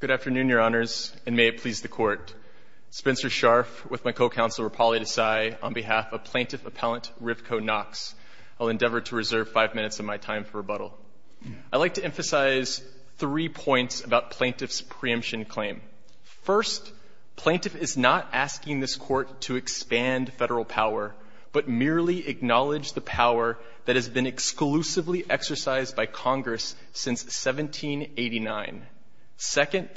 Good afternoon, Your Honors, and may it please the Court. Spencer Scharf with my co-counsel Rapali Desai on behalf of Plaintiff Appellant Rivko Knox. I'll endeavor to reserve five minutes of my time for rebuttal. I'd like to emphasize three points about Plaintiff's preemption claim. First, Plaintiff is not asking this Court to expand federal power, but merely acknowledge the power that has been exclusively exercised by Congress since 1789. Second,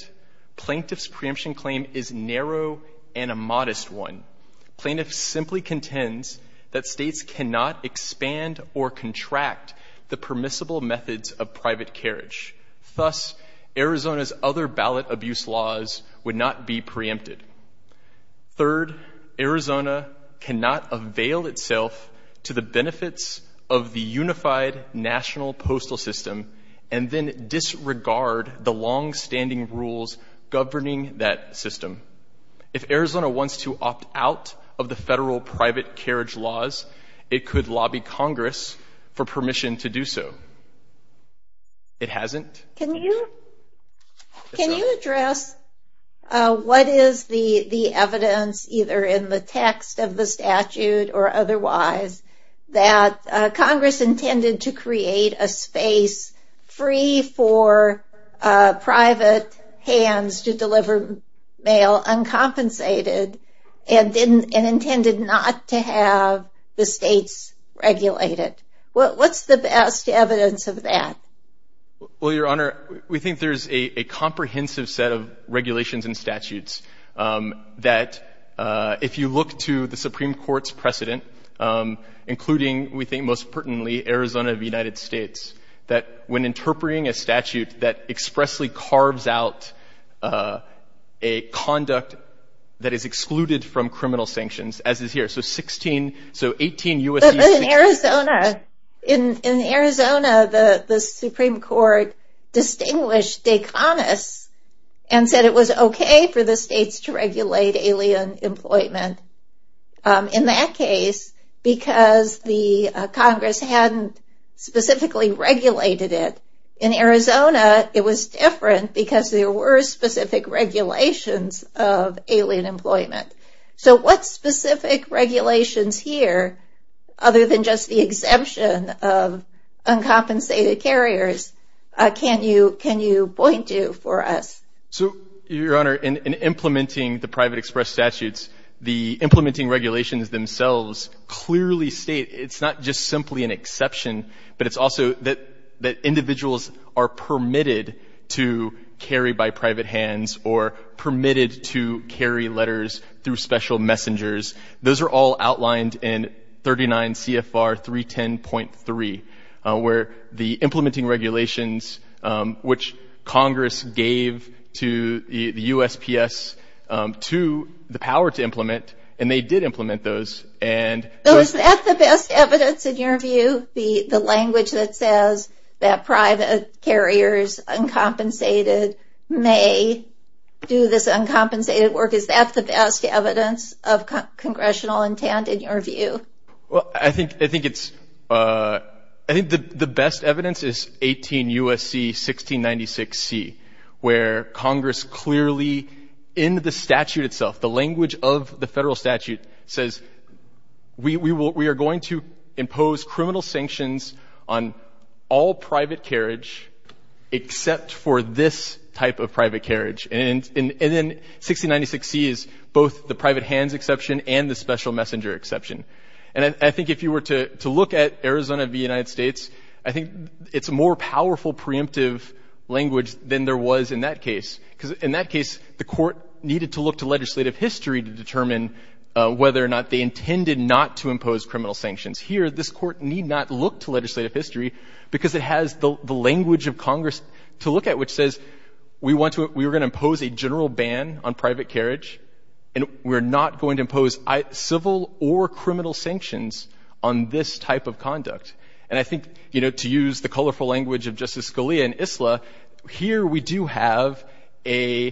Plaintiff's preemption claim is narrow and a modest one. Plaintiff simply contends that states cannot expand or contract the permissible methods of private carriage. Thus, Arizona's other ballot abuse laws would not be preempted. Third, Arizona cannot avail itself to the benefits of the unified national postal system and then disregard the longstanding rules governing that system. If Arizona wants to opt out of the federal private carriage laws, it could lobby Congress for permission to do so. It hasn't. Can you address what is the evidence, either in the text of the statute or otherwise, that Congress intended to create a space free for private hands to deliver mail uncompensated and intended not to have the states regulate it? What's the best evidence of that? Well, Your Honor, we think there's a comprehensive set of regulations and statutes that, if you look to the Supreme Court's precedent, including, we think most pertinently, Arizona of the United States, that when interpreting a statute that expressly carves out a conduct that is excluded from criminal sanctions, as is here, so 16, so 18 U.S.C. But in Arizona, the Supreme Court distinguished Daconis and said it was okay for the states to regulate alien employment. In that case, because the Congress hadn't specifically regulated it, in Arizona it was different because there were specific regulations of alien employment. So what specific regulations here, other than just the exemption of uncompensated carriers, can you point to for us? So, Your Honor, in implementing the private express statutes, the implementing regulations themselves clearly state, it's not just simply an exception, but it's also that individuals are permitted to carry by private hands or permitted to carry letters through special messengers. Those are all outlined in 39 CFR 310.3, where the implementing regulations, which Congress gave to the USPS to the power to implement, and they did implement those. Is that the best evidence, in your view? The language that says that private carriers, uncompensated, may do this uncompensated work, is that the best evidence of congressional intent, in your view? Well, I think the best evidence is 18 U.S.C. 1696C, where Congress clearly, in the statute itself, the language of the federal statute says, we are going to impose criminal sanctions on all private carriage except for this type of private carriage. And then 1696C is both the private hands exception and the special messenger exception. And I think if you were to look at Arizona v. United States, I think it's a more powerful preemptive language than there was in that case. Because in that case, the court needed to look to legislative history to determine whether or not they intended not to impose criminal sanctions. Here, this court need not look to legislative history because it has the language of Congress to look at, which says, we were going to impose a general ban on private carriage, and we're not going to impose civil or criminal sanctions on this type of conduct. And I think, you know, to use the colorful language of Justice Scalia and ISLA, here we do have a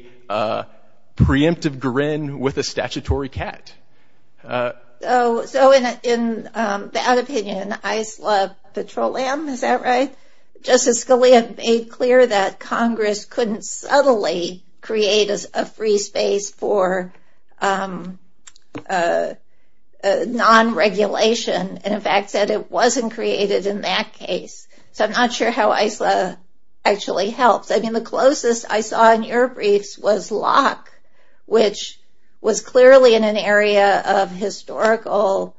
preemptive grin with a statutory cat. So in that opinion, ISLA Petroleum, is that right? Justice Scalia made clear that Congress couldn't subtly create a free space for non-regulation, and in fact said it wasn't created in that case. So I'm not sure how ISLA actually helps. I mean, the closest I saw in your briefs was LOC, which was clearly in an area of historical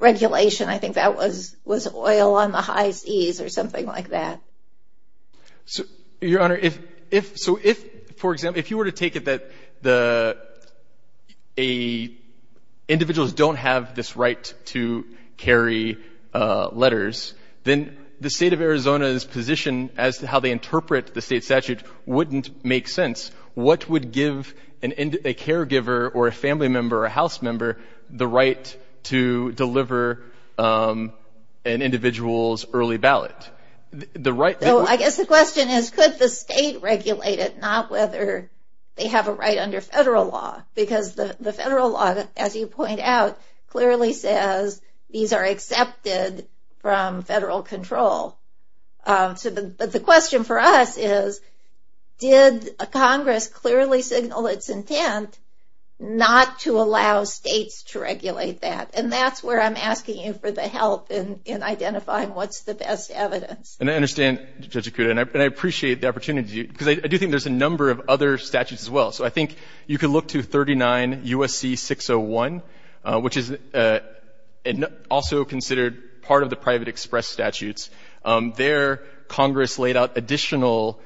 regulation. I think that was oil on the high seas or something like that. Your Honor, so if, for example, if you were to take it that the individuals don't have this right to carry letters, then the state of Arizona's position as to how they interpret the state statute wouldn't make sense. What would give a caregiver or a family member or a house member the right to deliver an individual's early ballot? I guess the question is, could the state regulate it, not whether they have a right under federal law? Because the federal law, as you point out, clearly says these are accepted from federal control. But the question for us is, did Congress clearly signal its intent not to allow states to regulate that? And that's where I'm asking you for the help in identifying what's the best evidence. And I understand, Judge Akuda, and I appreciate the opportunity, because I do think there's a number of other statutes as well. So I think you could look to 39 U.S.C. 601, which is also considered part of the private express statutes. There, Congress laid out additional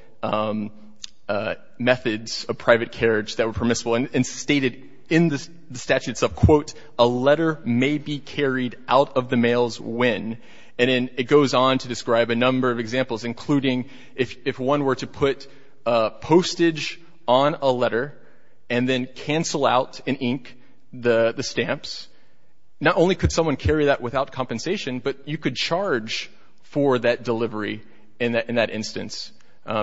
methods of private carriage that were permissible and stated in the statute itself, quote, a letter may be carried out of the mails when. And then it goes on to describe a number of examples, including if one were to put postage on a letter and then cancel out in ink the stamps, not only could someone carry that without compensation, but you could charge for that delivery in that instance,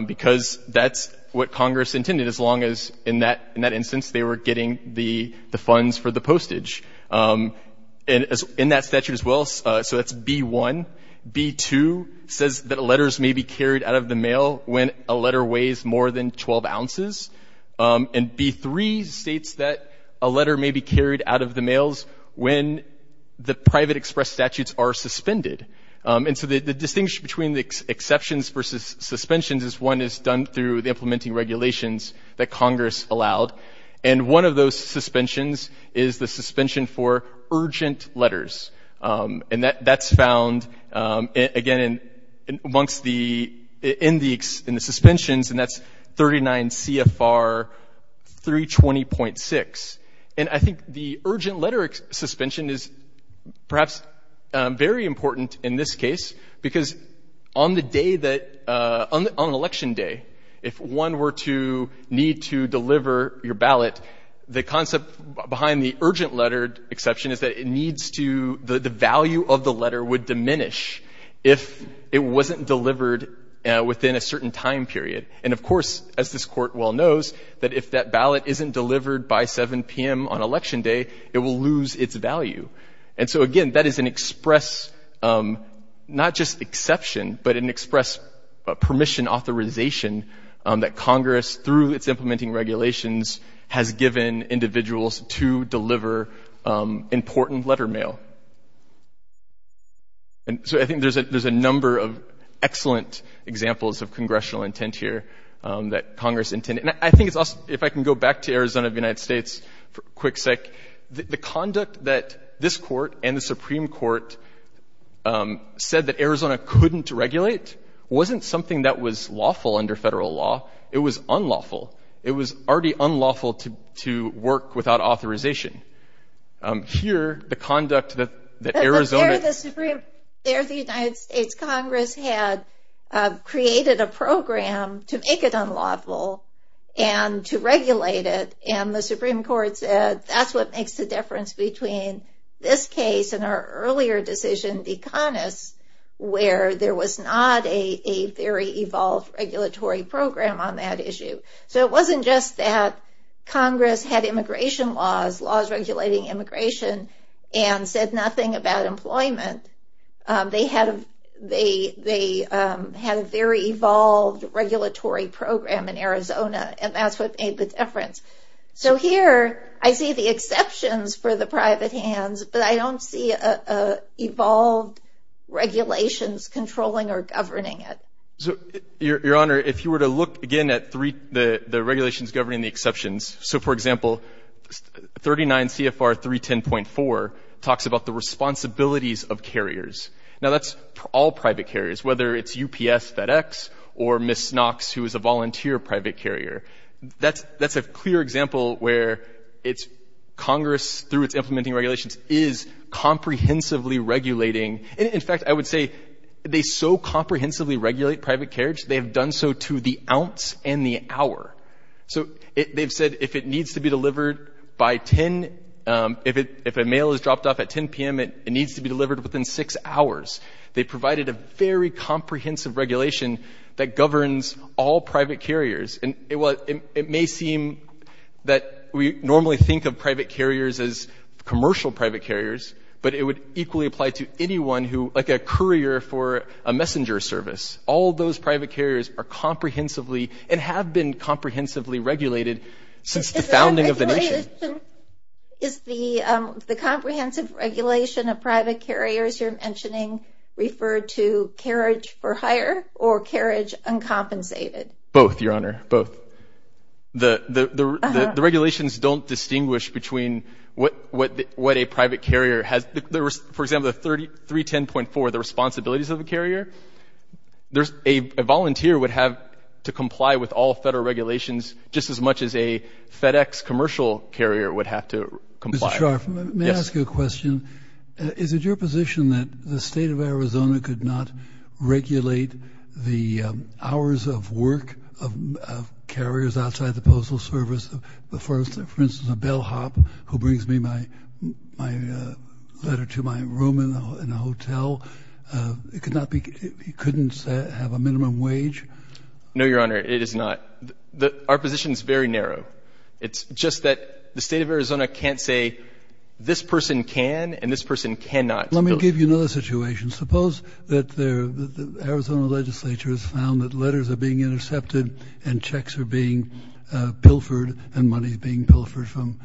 because that's what Congress intended, as long as in that instance they were getting the funds for the postage. And in that statute as well, so that's B-1. B-2 says that letters may be carried out of the mail when a letter weighs more than 12 ounces. And B-3 states that a letter may be carried out of the mails when the private express statutes are suspended. And so the distinction between the exceptions versus suspensions is one is done through the implementing regulations that Congress allowed, and one of those suspensions is the suspension for urgent letters. And that's found, again, in the suspensions, and that's 39 CFR 320.6. And I think the urgent letter suspension is perhaps very important in this case, because on the day that — on Election Day, if one were to need to deliver your ballot, the concept behind the urgent letter exception is that it needs to — the value of the letter would diminish if it wasn't delivered within a certain time period. And, of course, as this Court well knows, that if that ballot isn't delivered by 7 p.m. on Election Day, it will lose its value. And so, again, that is an express — not just exception, but an express permission authorization that Congress, through its implementing regulations, has given individuals to deliver important letter mail. And so I think there's a number of excellent examples of congressional intent here that Congress intended. And I think it's also — if I can go back to Arizona of the United States for a quick sec. The conduct that this Court and the Supreme Court said that Arizona couldn't regulate wasn't something that was lawful under federal law. It was unlawful. It was already unlawful to work without authorization. Here, the conduct that Arizona — But there the Supreme — there the United States Congress had created a program to make it unlawful and to regulate it. And the Supreme Court said that's what makes the difference between this case and our earlier decision, DECONUS, where there was not a very evolved regulatory program on that issue. So it wasn't just that Congress had immigration laws, laws regulating immigration, and said nothing about employment. They had a very evolved regulatory program in Arizona, and that's what made the difference. So here, I see the exceptions for the private hands, but I don't see evolved regulations controlling or governing it. Your Honor, if you were to look again at the regulations governing the exceptions — so, for example, 39 CFR 310.4 talks about the responsibilities of carriers. Now, that's all private carriers, whether it's UPS, FedEx, or Ms. Knox, who is a volunteer private carrier. That's a clear example where Congress, through its implementing regulations, is comprehensively regulating — in fact, I would say they so comprehensively regulate private carriers, they have done so to the ounce and the hour. So they've said if it needs to be delivered by 10 — if a mail is dropped off at 10 p.m., it needs to be delivered within six hours. They provided a very comprehensive regulation that governs all private carriers. And it may seem that we normally think of private carriers as commercial private carriers, but it would equally apply to anyone who — like a courier for a messenger service. All those private carriers are comprehensively and have been comprehensively regulated since the founding of the nation. Is the comprehensive regulation of private carriers you're mentioning referred to carriage for hire or carriage uncompensated? Both, Your Honor, both. The regulations don't distinguish between what a private carrier has. For example, the 310.4, the responsibilities of a carrier, a volunteer would have to comply with all federal regulations just as much as a FedEx commercial carrier would have to comply. Mr. Scharf, may I ask you a question? Is it your position that the state of Arizona could not regulate the hours of work of carriers outside the postal service? For instance, a bellhop who brings me my letter to my room in a hotel, it could not be — he couldn't have a minimum wage? No, Your Honor, it is not. Our position is very narrow. It's just that the state of Arizona can't say this person can and this person cannot. Let me give you another situation. Suppose that the Arizona legislature has found that letters are being intercepted and checks are being pilfered and money is being pilfered from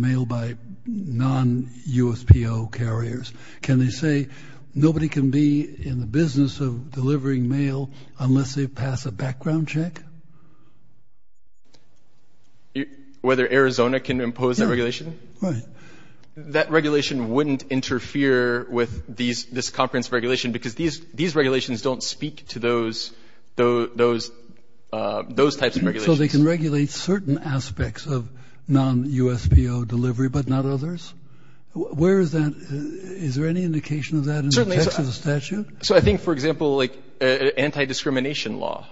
mail by non-USPO carriers. Can they say nobody can be in the business of delivering mail unless they pass a background check? Whether Arizona can impose that regulation? Right. That regulation wouldn't interfere with this comprehensive regulation because these regulations don't speak to those types of regulations. So they can regulate certain aspects of non-USPO delivery but not others? Where is that? Is there any indication of that in the text of the statute? So I think, for example, like anti-discrimination law,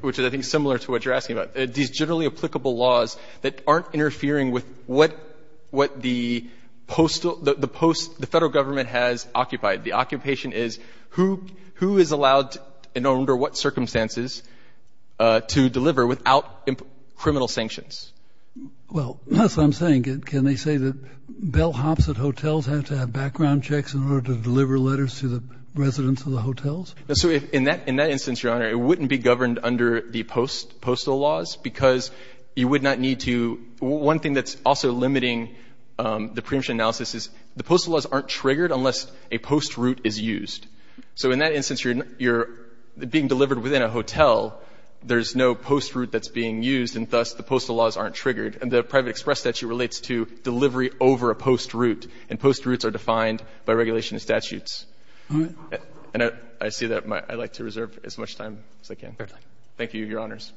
which I think is similar to what you're asking about, these generally applicable laws that aren't interfering with what the federal government has occupied. The occupation is who is allowed and under what circumstances to deliver without criminal sanctions. Well, that's what I'm saying. Can they say that bellhops at hotels have to have background checks in order to deliver letters to the residents of the hotels? So in that instance, Your Honor, it wouldn't be governed under the postal laws because you would not need to. One thing that's also limiting the preemption analysis is the postal laws aren't triggered unless a post route is used. So in that instance, you're being delivered within a hotel. There's no post route that's being used, and thus the postal laws aren't triggered. And the private express statute relates to delivery over a post route, and post routes are defined by regulation of statutes. And I see that I'd like to reserve as much time as I can. Thank you, Your Honors. Thank you, Your Honors.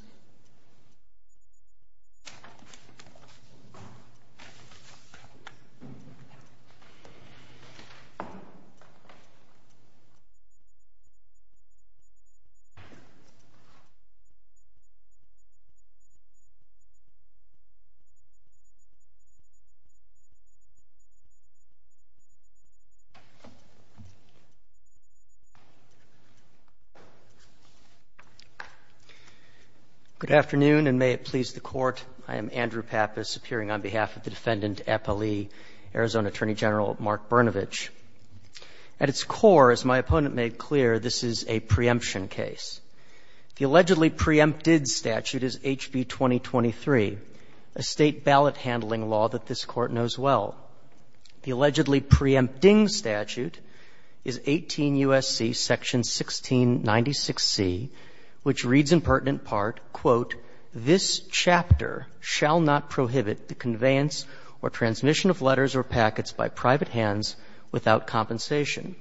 Good afternoon, and may it please the Court. I am Andrew Pappas, appearing on behalf of the Defendant Eppley, Arizona Attorney General Mark Brnovich. At its core, as my opponent made clear, this is a preemption case. The allegedly preempted statute is HB 2023, a State ballot handling law that this Court knows well. The allegedly preempting statute is 18 U.S.C. section 1696C, which reads in pertinent part, quote, This chapter shall not prohibit the conveyance or transmission of letters or packets by private hands without compensation.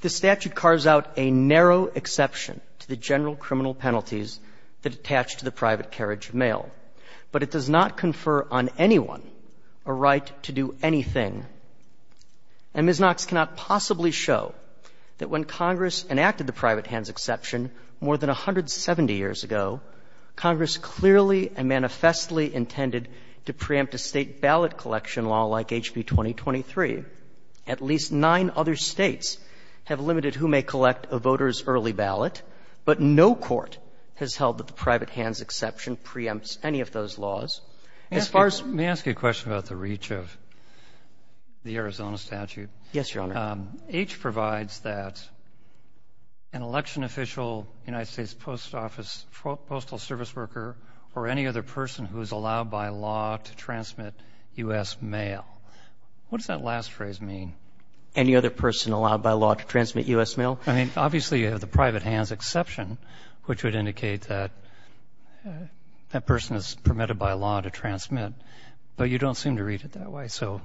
The statute carves out a narrow exception to the general criminal penalties that attach to the private carriage mail. But it does not confer on anyone a right to do anything. And Ms. Knox cannot possibly show that when Congress enacted the private hands exception more than 170 years ago, Congress clearly and manifestly intended to preempt a State ballot collection law like HB 2023. At least nine other States have limited who may collect a voter's early ballot, but no court has held that the private hands exception preempts any of those laws. As far as ---- May I ask you a question about the reach of the Arizona statute? Yes, Your Honor. H provides that an election official, United States Post Office, postal service worker, or any other person who is allowed by law to transmit U.S. mail. What does that last phrase mean? Any other person allowed by law to transmit U.S. mail? I mean, obviously, you have the private hands exception, which would indicate that that person is permitted by law to transmit. But you don't seem to read it that way, so.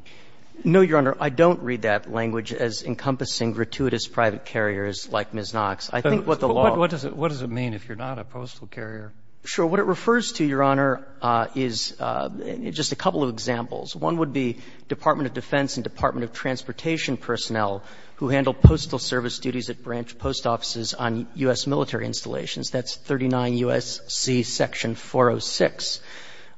No, Your Honor. I don't read that language as encompassing gratuitous private carriers like Ms. Knox. I think what the law ---- What does it mean if you're not a postal carrier? Sure. What it refers to, Your Honor, is just a couple of examples. One would be Department of Defense and Department of Transportation personnel who handle postal service duties at branch post offices on U.S. military installations. That's 39 U.S.C. section 406.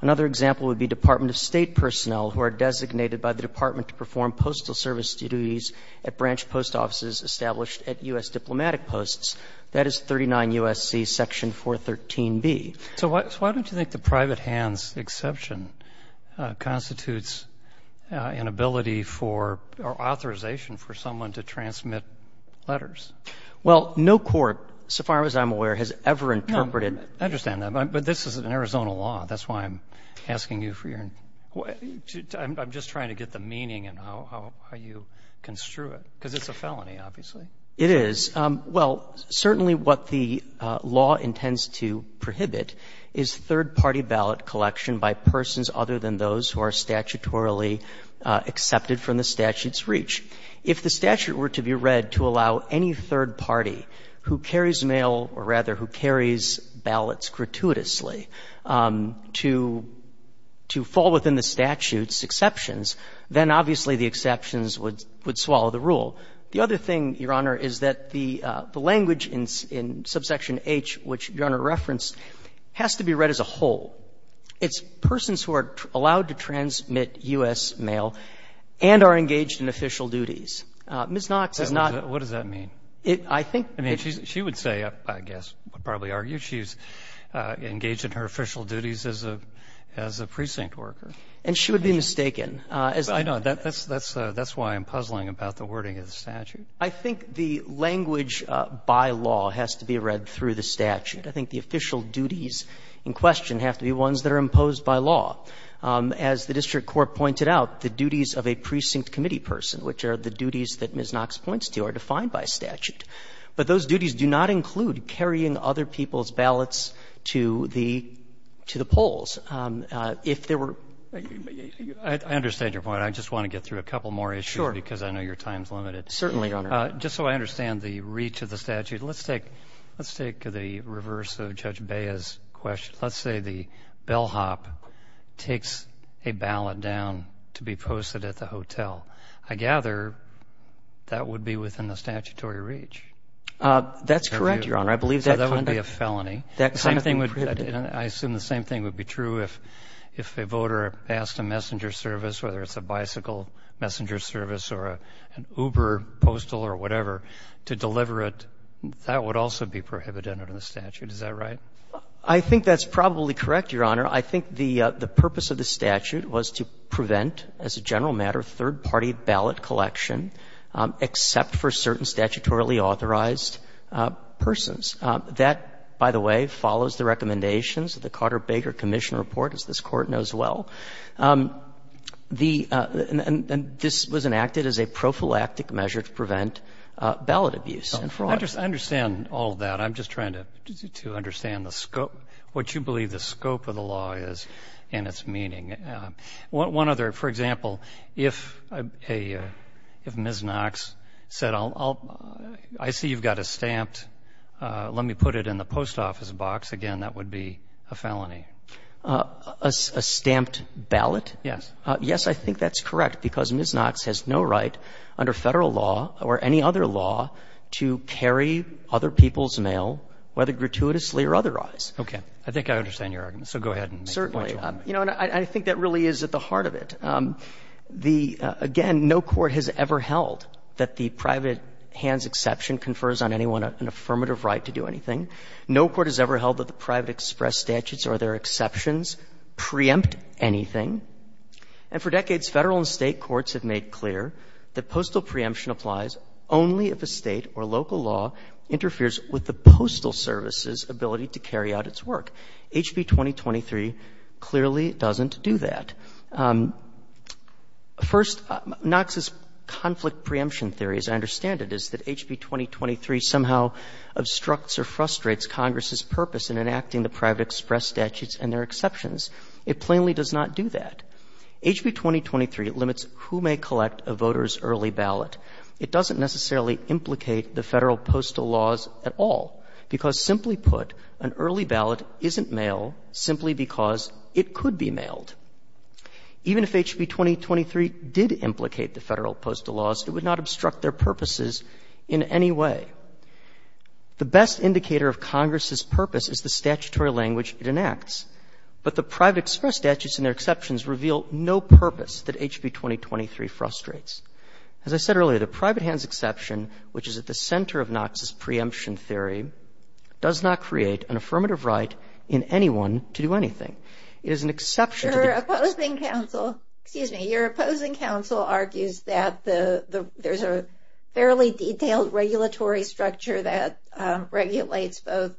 Another example would be Department of State personnel who are designated by the Department to perform postal service duties at branch post offices established at U.S. diplomatic posts. That is 39 U.S.C. section 413B. So why don't you think the private hands exception constitutes an ability for or authorization for someone to transmit letters? Well, no court, so far as I'm aware, has ever interpreted ---- I understand that. But this is an Arizona law. That's why I'm asking you for your ---- I'm just trying to get the meaning and how you construe it, because it's a felony, obviously. It is. Well, certainly what the law intends to prohibit is third-party ballot collection by persons other than those who are statutorily accepted from the statute's reach. If the statute were to be read to allow any third party who carries mail, or rather who carries ballots gratuitously, to fall within the statute's exceptions, then obviously the exceptions would swallow the rule. The other thing, Your Honor, is that the language in subsection H, which Your Honor referenced, has to be read as a whole. It's persons who are allowed to transmit U.S. mail and are engaged in official duties. Ms. Knox is not ---- What does that mean? I think it's ---- I mean, she would say, I guess, probably argue she's engaged in her official duties as a precinct worker. And she would be mistaken. I know. That's why I'm puzzling about the wording of the statute. I think the language by law has to be read through the statute. I think the official duties in question have to be ones that are imposed by law. As the district court pointed out, the duties of a precinct committee person, which are the duties that Ms. Knox points to, are defined by statute. But those duties do not include carrying other people's ballots to the polls. If there were ---- I understand your point. I just want to get through a couple more issues because I know your time is limited. Certainly, Your Honor. Just so I understand the reach of the statute, let's take the reverse of Judge Bea's question. Let's say the bellhop takes a ballot down to be posted at the hotel. I gather that would be within the statutory reach. That's correct, Your Honor. I believe that ---- So that wouldn't be a felony. I assume the same thing would be true if a voter passed a messenger service, whether it's a bicycle messenger service or an Uber postal or whatever, to deliver it. That would also be prohibited under the statute. Is that right? I think that's probably correct, Your Honor. I think the purpose of the statute was to prevent, as a general matter, third-party ballot collection, except for certain statutorily authorized persons. That, by the way, follows the recommendations of the Carter-Baker Commission report, as this Court knows well. The ---- and this was enacted as a prophylactic measure to prevent ballot abuse and fraud. I understand all of that. I'm just trying to understand the scope, what you believe the scope of the law is and its meaning. One other. For example, if a ---- if Ms. Knox said, I'll ---- I see you've got a stamped ---- let me put it in the post office box, again, that would be a felony. A stamped ballot? Yes. Yes, I think that's correct, because Ms. Knox has no right under Federal law or any other law to carry other people's mail, whether gratuitously or otherwise. Okay. I think I understand your argument. So go ahead and make your point, Your Honor. Certainly. You know, and I think that really is at the heart of it. The ---- again, no court has ever held that the private hand's exception confers on anyone an affirmative right to do anything. No court has ever held that the private express statutes or their exceptions preempt anything. And for decades, Federal and State courts have made clear that postal preemption applies only if a State or local law interferes with the postal service's ability to carry out its work. HB 2023 clearly doesn't do that. First, Knox's conflict preemption theory, as I understand it, is that HB 2023 somehow obstructs or frustrates Congress's purpose in enacting the private express statutes and their exceptions. It plainly does not do that. HB 2023 limits who may collect a voter's early ballot. It doesn't necessarily implicate the Federal postal laws at all, because, simply put, an early ballot isn't mail simply because it could be mailed. Even if HB 2023 did implicate the Federal postal laws, it would not obstruct their purposes in any way. The best indicator of Congress's purpose is the statutory language it enacts. But the private express statutes and their exceptions reveal no purpose that HB 2023 frustrates. As I said earlier, the private hands exception, which is at the center of Knox's preemption theory, does not create an affirmative right in anyone to do anything. It is an exception to the- Your opposing counsel argues that there's a fairly detailed regulatory structure that regulates both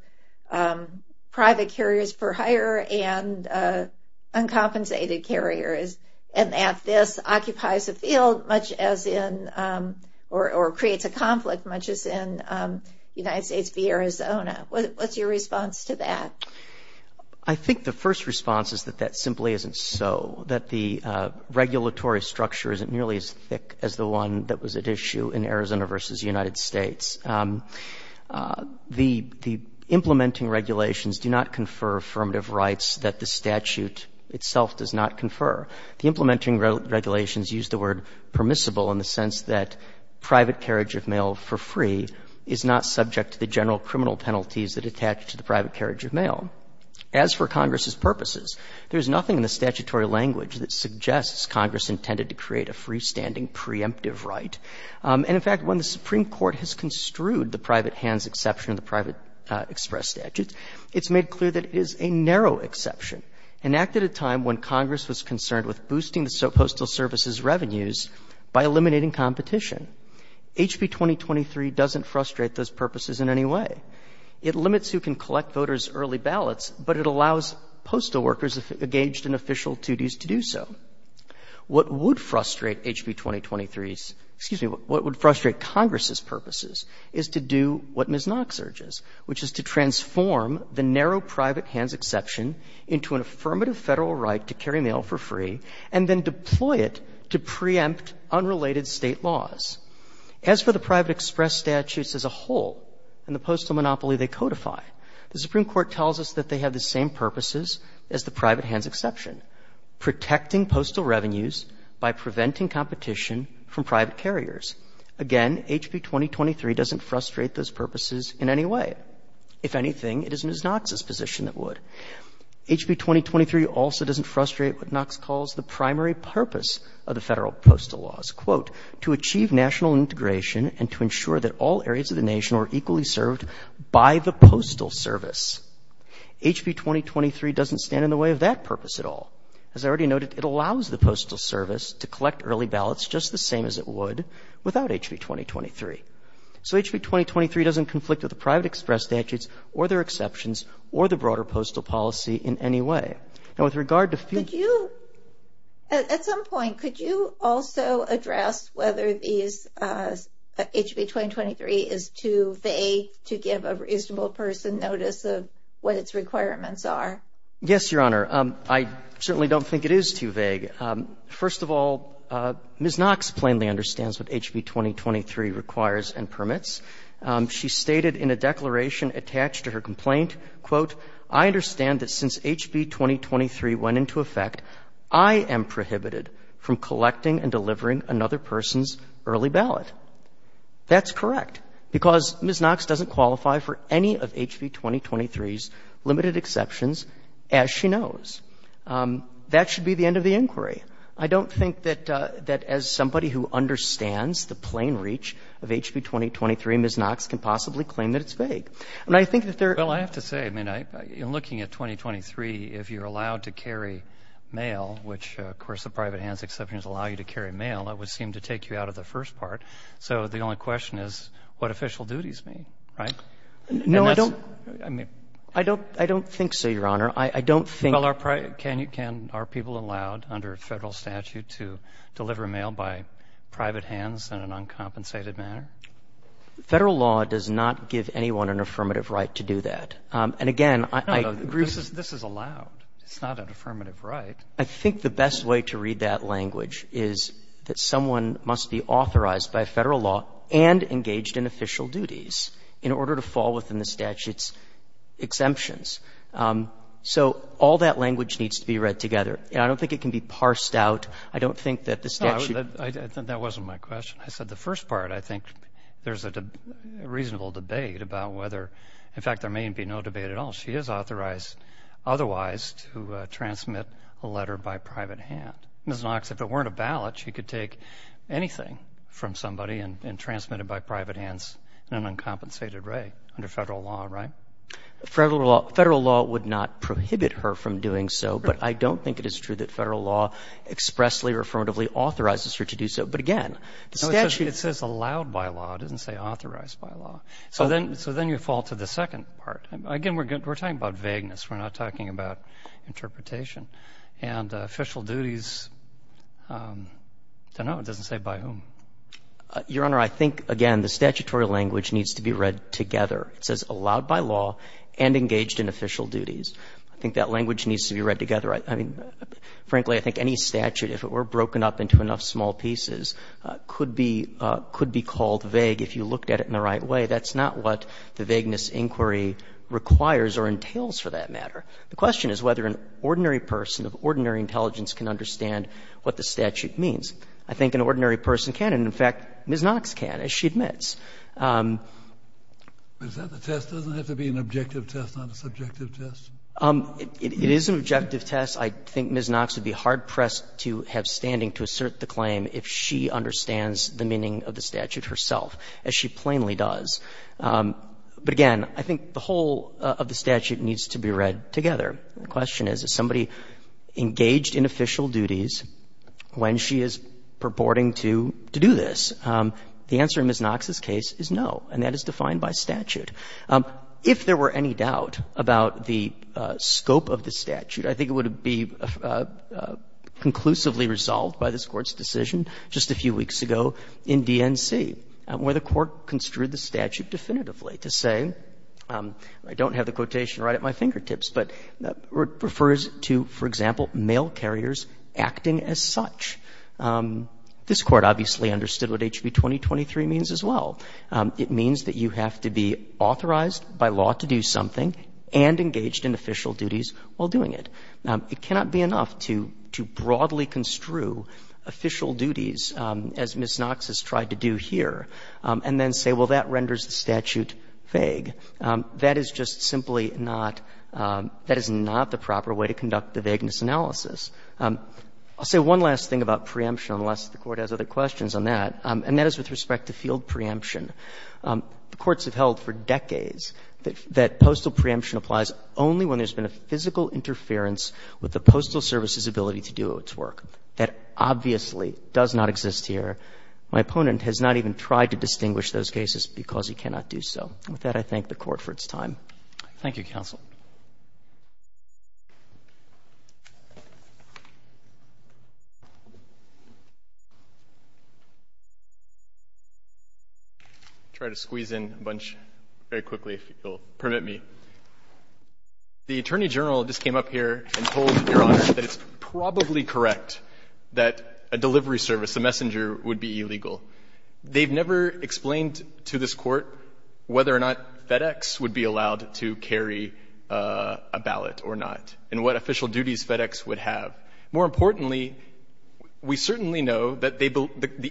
private carriers for hire and uncompensated carriers, and that this occupies a field much as in-or creates a conflict much as in the United States v. Arizona. What's your response to that? I think the first response is that that simply isn't so, that the regulatory structure isn't nearly as thick as the one that was at issue in Arizona v. United States. The implementing regulations do not confer affirmative rights that the statute itself does not confer. The implementing regulations use the word permissible in the sense that private carriage of mail for free is not subject to the general criminal penalties that attach to the private carriage of mail. As for Congress's purposes, there's nothing in the statutory language that suggests Congress intended to create a freestanding preemptive right. And, in fact, when the Supreme Court has construed the private hands exception in the private express statute, it's made clear that it is a narrow exception, an act at a time when Congress was concerned with boosting the Postal Service's revenues by eliminating competition. HB 2023 doesn't frustrate those purposes in any way. It limits who can collect voters' early ballots, but it allows postal workers engaged in official duties to do so. What would frustrate HB 2023's, excuse me, what would frustrate Congress's purposes is to do what Ms. Knox urges, which is to transform the narrow private hands exception into an affirmative Federal right to carry mail for free and then deploy it to preempt unrelated State laws. As for the private express statutes as a whole and the postal monopoly they codify, the Supreme Court tells us that they have the same purposes as the private hands exception, protecting postal revenues by preventing competition from private carriers. Again, HB 2023 doesn't frustrate those purposes in any way. If anything, it is Ms. Knox's position that would. HB 2023 also doesn't frustrate what Knox calls the primary purpose of the Federal Postal Laws, quote, to achieve national integration and to ensure that all areas of the nation are equally served by the Postal Service. HB 2023 doesn't stand in the way of that purpose at all. As I already noted, it allows the Postal Service to collect early ballots just the same as it would without HB 2023. So HB 2023 doesn't conflict with the private express statutes or their exceptions or the broader postal policy in any way. Now, with regard to... At some point, could you also address whether HB 2023 is too vague to give a statement about what its requirements are? Yes, Your Honor. I certainly don't think it is too vague. First of all, Ms. Knox plainly understands what HB 2023 requires and permits. She stated in a declaration attached to her complaint, quote, I understand that since HB 2023 went into effect, I am prohibited from collecting and delivering another person's early ballot. That's correct, because Ms. Knox doesn't qualify for any of HB 2023's limited exceptions, as she knows. That should be the end of the inquiry. I don't think that as somebody who understands the plain reach of HB 2023, Ms. Knox can possibly claim that it's vague. And I think that there... Well, I have to say, I mean, in looking at 2023, if you're allowed to carry mail, which, of course, the private hands exceptions allow you to carry mail, that would seem to take you out of the first part. So the only question is what official duties mean, right? No, I don't... I mean... I don't think so, Your Honor. I don't think... Well, are people allowed under federal statute to deliver mail by private hands in an uncompensated manner? Federal law does not give anyone an affirmative right to do that. And, again, I... No, no, this is allowed. It's not an affirmative right. I think the best way to read that language is that someone must be authorized by federal law and engaged in official duties in order to fall within the statute's exemptions. So all that language needs to be read together. And I don't think it can be parsed out. I don't think that the statute... No, that wasn't my question. I said the first part. I think there's a reasonable debate about whether... In fact, there may be no debate at all. She is authorized otherwise to transmit a letter by private hand. Ms. Knox, if it weren't a ballot, she could take anything from somebody and transmit it by private hands in an uncompensated way under federal law, right? Federal law would not prohibit her from doing so, but I don't think it is true that federal law expressly or affirmatively authorizes her to do so. But, again, the statute... No, it says allowed by law. It doesn't say authorized by law. So then you fall to the second part. Again, we're talking about vagueness. We're not talking about interpretation. And official duties, I don't know. It doesn't say by whom. Your Honor, I think, again, the statutory language needs to be read together. It says allowed by law and engaged in official duties. I think that language needs to be read together. I mean, frankly, I think any statute, if it were broken up into enough small pieces, could be called vague if you looked at it in the right way. That's not what the vagueness inquiry requires or entails, for that matter. The question is whether an ordinary person of ordinary intelligence can understand what the statute means. I think an ordinary person can. And, in fact, Ms. Knox can, as she admits. Kennedy. But the test doesn't have to be an objective test, not a subjective test? It is an objective test. I think Ms. Knox would be hard-pressed to have standing to assert the claim if she certainly does. But, again, I think the whole of the statute needs to be read together. The question is, is somebody engaged in official duties when she is purporting to do this? The answer in Ms. Knox's case is no, and that is defined by statute. If there were any doubt about the scope of the statute, I think it would be conclusively resolved by this Court's decision just a few weeks ago in DNC, where the Court construed the statute definitively to say, I don't have the quotation right at my fingertips, but refers to, for example, male carriers acting as such. This Court obviously understood what HB 2023 means as well. It means that you have to be authorized by law to do something and engaged in official duties while doing it. It cannot be enough to broadly construe official duties as Ms. Knox has tried to do here and then say, well, that renders the statute vague. That is just simply not the proper way to conduct the vagueness analysis. I'll say one last thing about preemption, unless the Court has other questions on that, and that is with respect to field preemption. The courts have held for decades that postal preemption applies only when there's been a physical interference with the Postal Service's ability to do its work. That obviously does not exist here. My opponent has not even tried to distinguish those cases because he cannot do so. With that, I thank the Court for its time. Roberts. Thank you, counsel. I'll try to squeeze in a bunch very quickly, if you'll permit me. The Attorney General just came up here and told Your Honor that it's probably correct that a delivery service, a messenger, would be illegal. They've never explained to this Court whether or not FedEx would be allowed to carry a ballot or not and what official duties FedEx would have. More importantly, we certainly know that the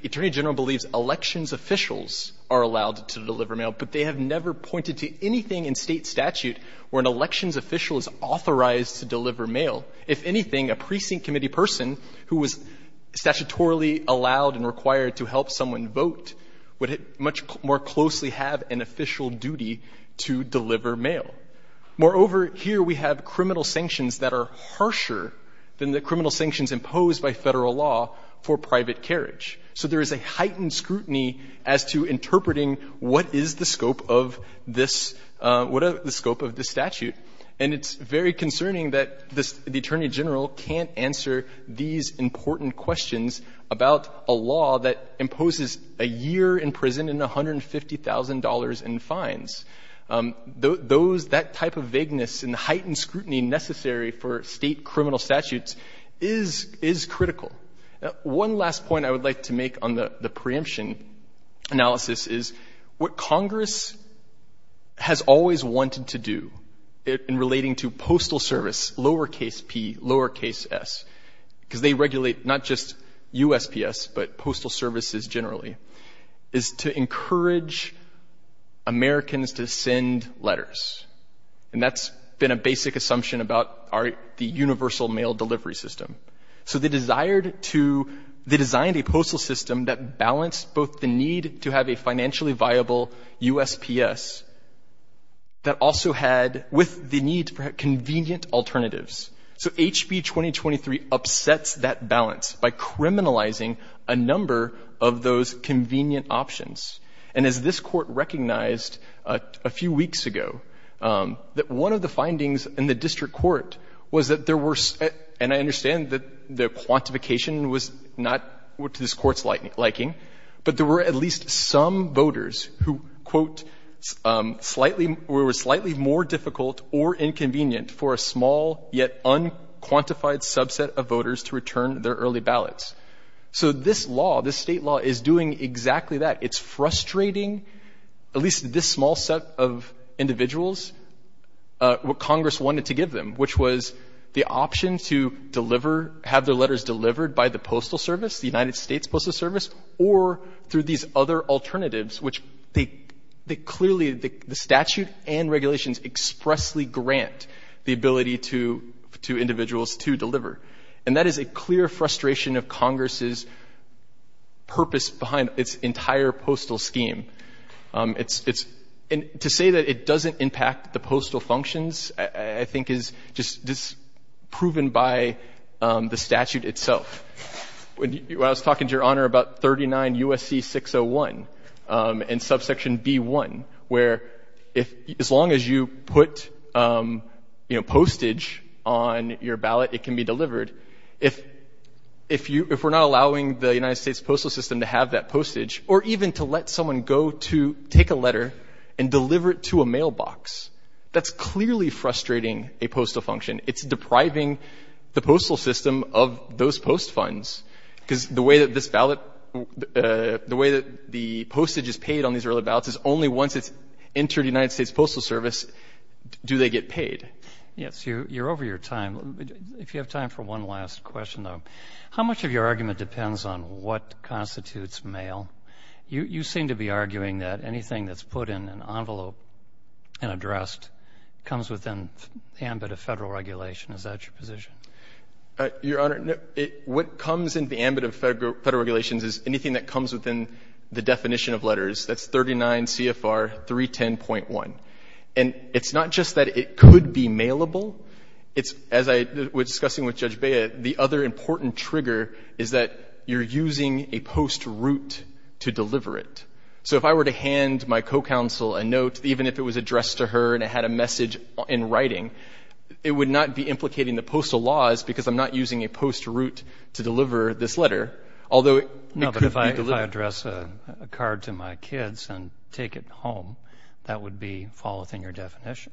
Attorney General believes elections officials are allowed to deliver mail, but they have never pointed to anything in State statute where an elections official is authorized to deliver mail. If anything, a precinct committee person who was statutorily allowed and required to help someone vote would much more closely have an official duty to deliver mail. Moreover, here we have criminal sanctions that are harsher than the criminal sanctions imposed by Federal law for private carriage. So there is a heightened scrutiny as to interpreting what is the scope of this — what is the scope of this statute. And it's very concerning that the Attorney General can't answer these important questions about a law that imposes a year in prison and $150,000 in fines. Those — that type of vagueness and the heightened scrutiny necessary for State criminal statutes is critical. One last point I would like to make on the preemption analysis is what Congress has always wanted to do in relating to postal service, lowercase p, lowercase s, because they regulate not just USPS, but postal services generally, is to encourage Americans to send letters. And that's been a basic assumption about the universal mail delivery system. So they desired to — they designed a postal system that balanced both the need to have a financially viable USPS that also had — with the need for convenient alternatives. So HB 2023 upsets that balance by criminalizing a number of those convenient options. And as this Court recognized a few weeks ago, that one of the findings in the district court was that there were — and I understand that the quantification was not to this extent, but there were some voters who, quote, were slightly more difficult or inconvenient for a small yet unquantified subset of voters to return their early ballots. So this law, this State law, is doing exactly that. It's frustrating at least this small set of individuals what Congress wanted to give them, which was the option to deliver — have their letters delivered by the postal service, the United States Postal Service, or through these other alternatives, which they clearly — the statute and regulations expressly grant the ability to individuals to deliver. And that is a clear frustration of Congress's purpose behind its entire postal scheme. It's — to say that it doesn't impact the postal functions, I think, is just proven by the statute itself. When I was talking to Your Honor about 39 U.S.C. 601 and subsection B-1, where as long as you put, you know, postage on your ballot, it can be delivered. If we're not allowing the United States postal system to have that postage, or even to let someone go to take a letter and deliver it to a mailbox, that's clearly frustrating a postal function. It's depriving the postal system of those post funds, because the way that this ballot — the way that the postage is paid on these early ballots is only once it's entered United States Postal Service do they get paid. Yes. You're over your time. If you have time for one last question, though. How much of your argument depends on what constitutes mail? You seem to be arguing that anything that's put in an envelope and addressed comes within the ambit of Federal regulation. Is that your position? Your Honor, what comes in the ambit of Federal regulations is anything that comes within the definition of letters. That's 39 CFR 310.1. And it's not just that it could be mailable. It's — as I was discussing with Judge Bea, the other important trigger is that you're using a post route to deliver it. So if I were to hand my co-counsel a note, even if it was addressed to her and it had a message in writing, it would not be implicating the postal laws because I'm not using a post route to deliver this letter, although it could be delivered. No, but if I address a card to my kids and take it home, that would be fall within your definition.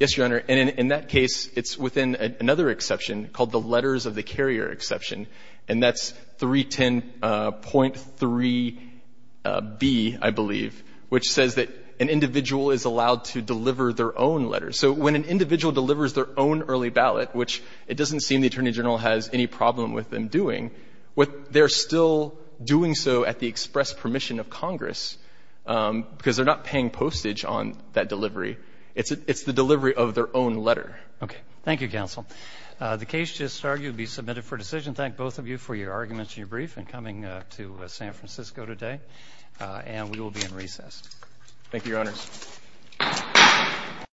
Yes, Your Honor. And in that case, it's within another exception called the letters of the carrier exception, and that's 310.3b, I believe, which says that an individual is allowed to deliver their own letters. So when an individual delivers their own early ballot, which it doesn't seem the Attorney General has any problem with them doing, they're still doing so at the express permission of Congress because they're not paying postage on that delivery. It's the delivery of their own letter. Okay. Thank you, counsel. The case just argued to be submitted for decision. Thank both of you for your arguments and your brief and coming to San Francisco today. And we will be in recess. Thank you, Your Honors. Thank you. Thank you. Thank you.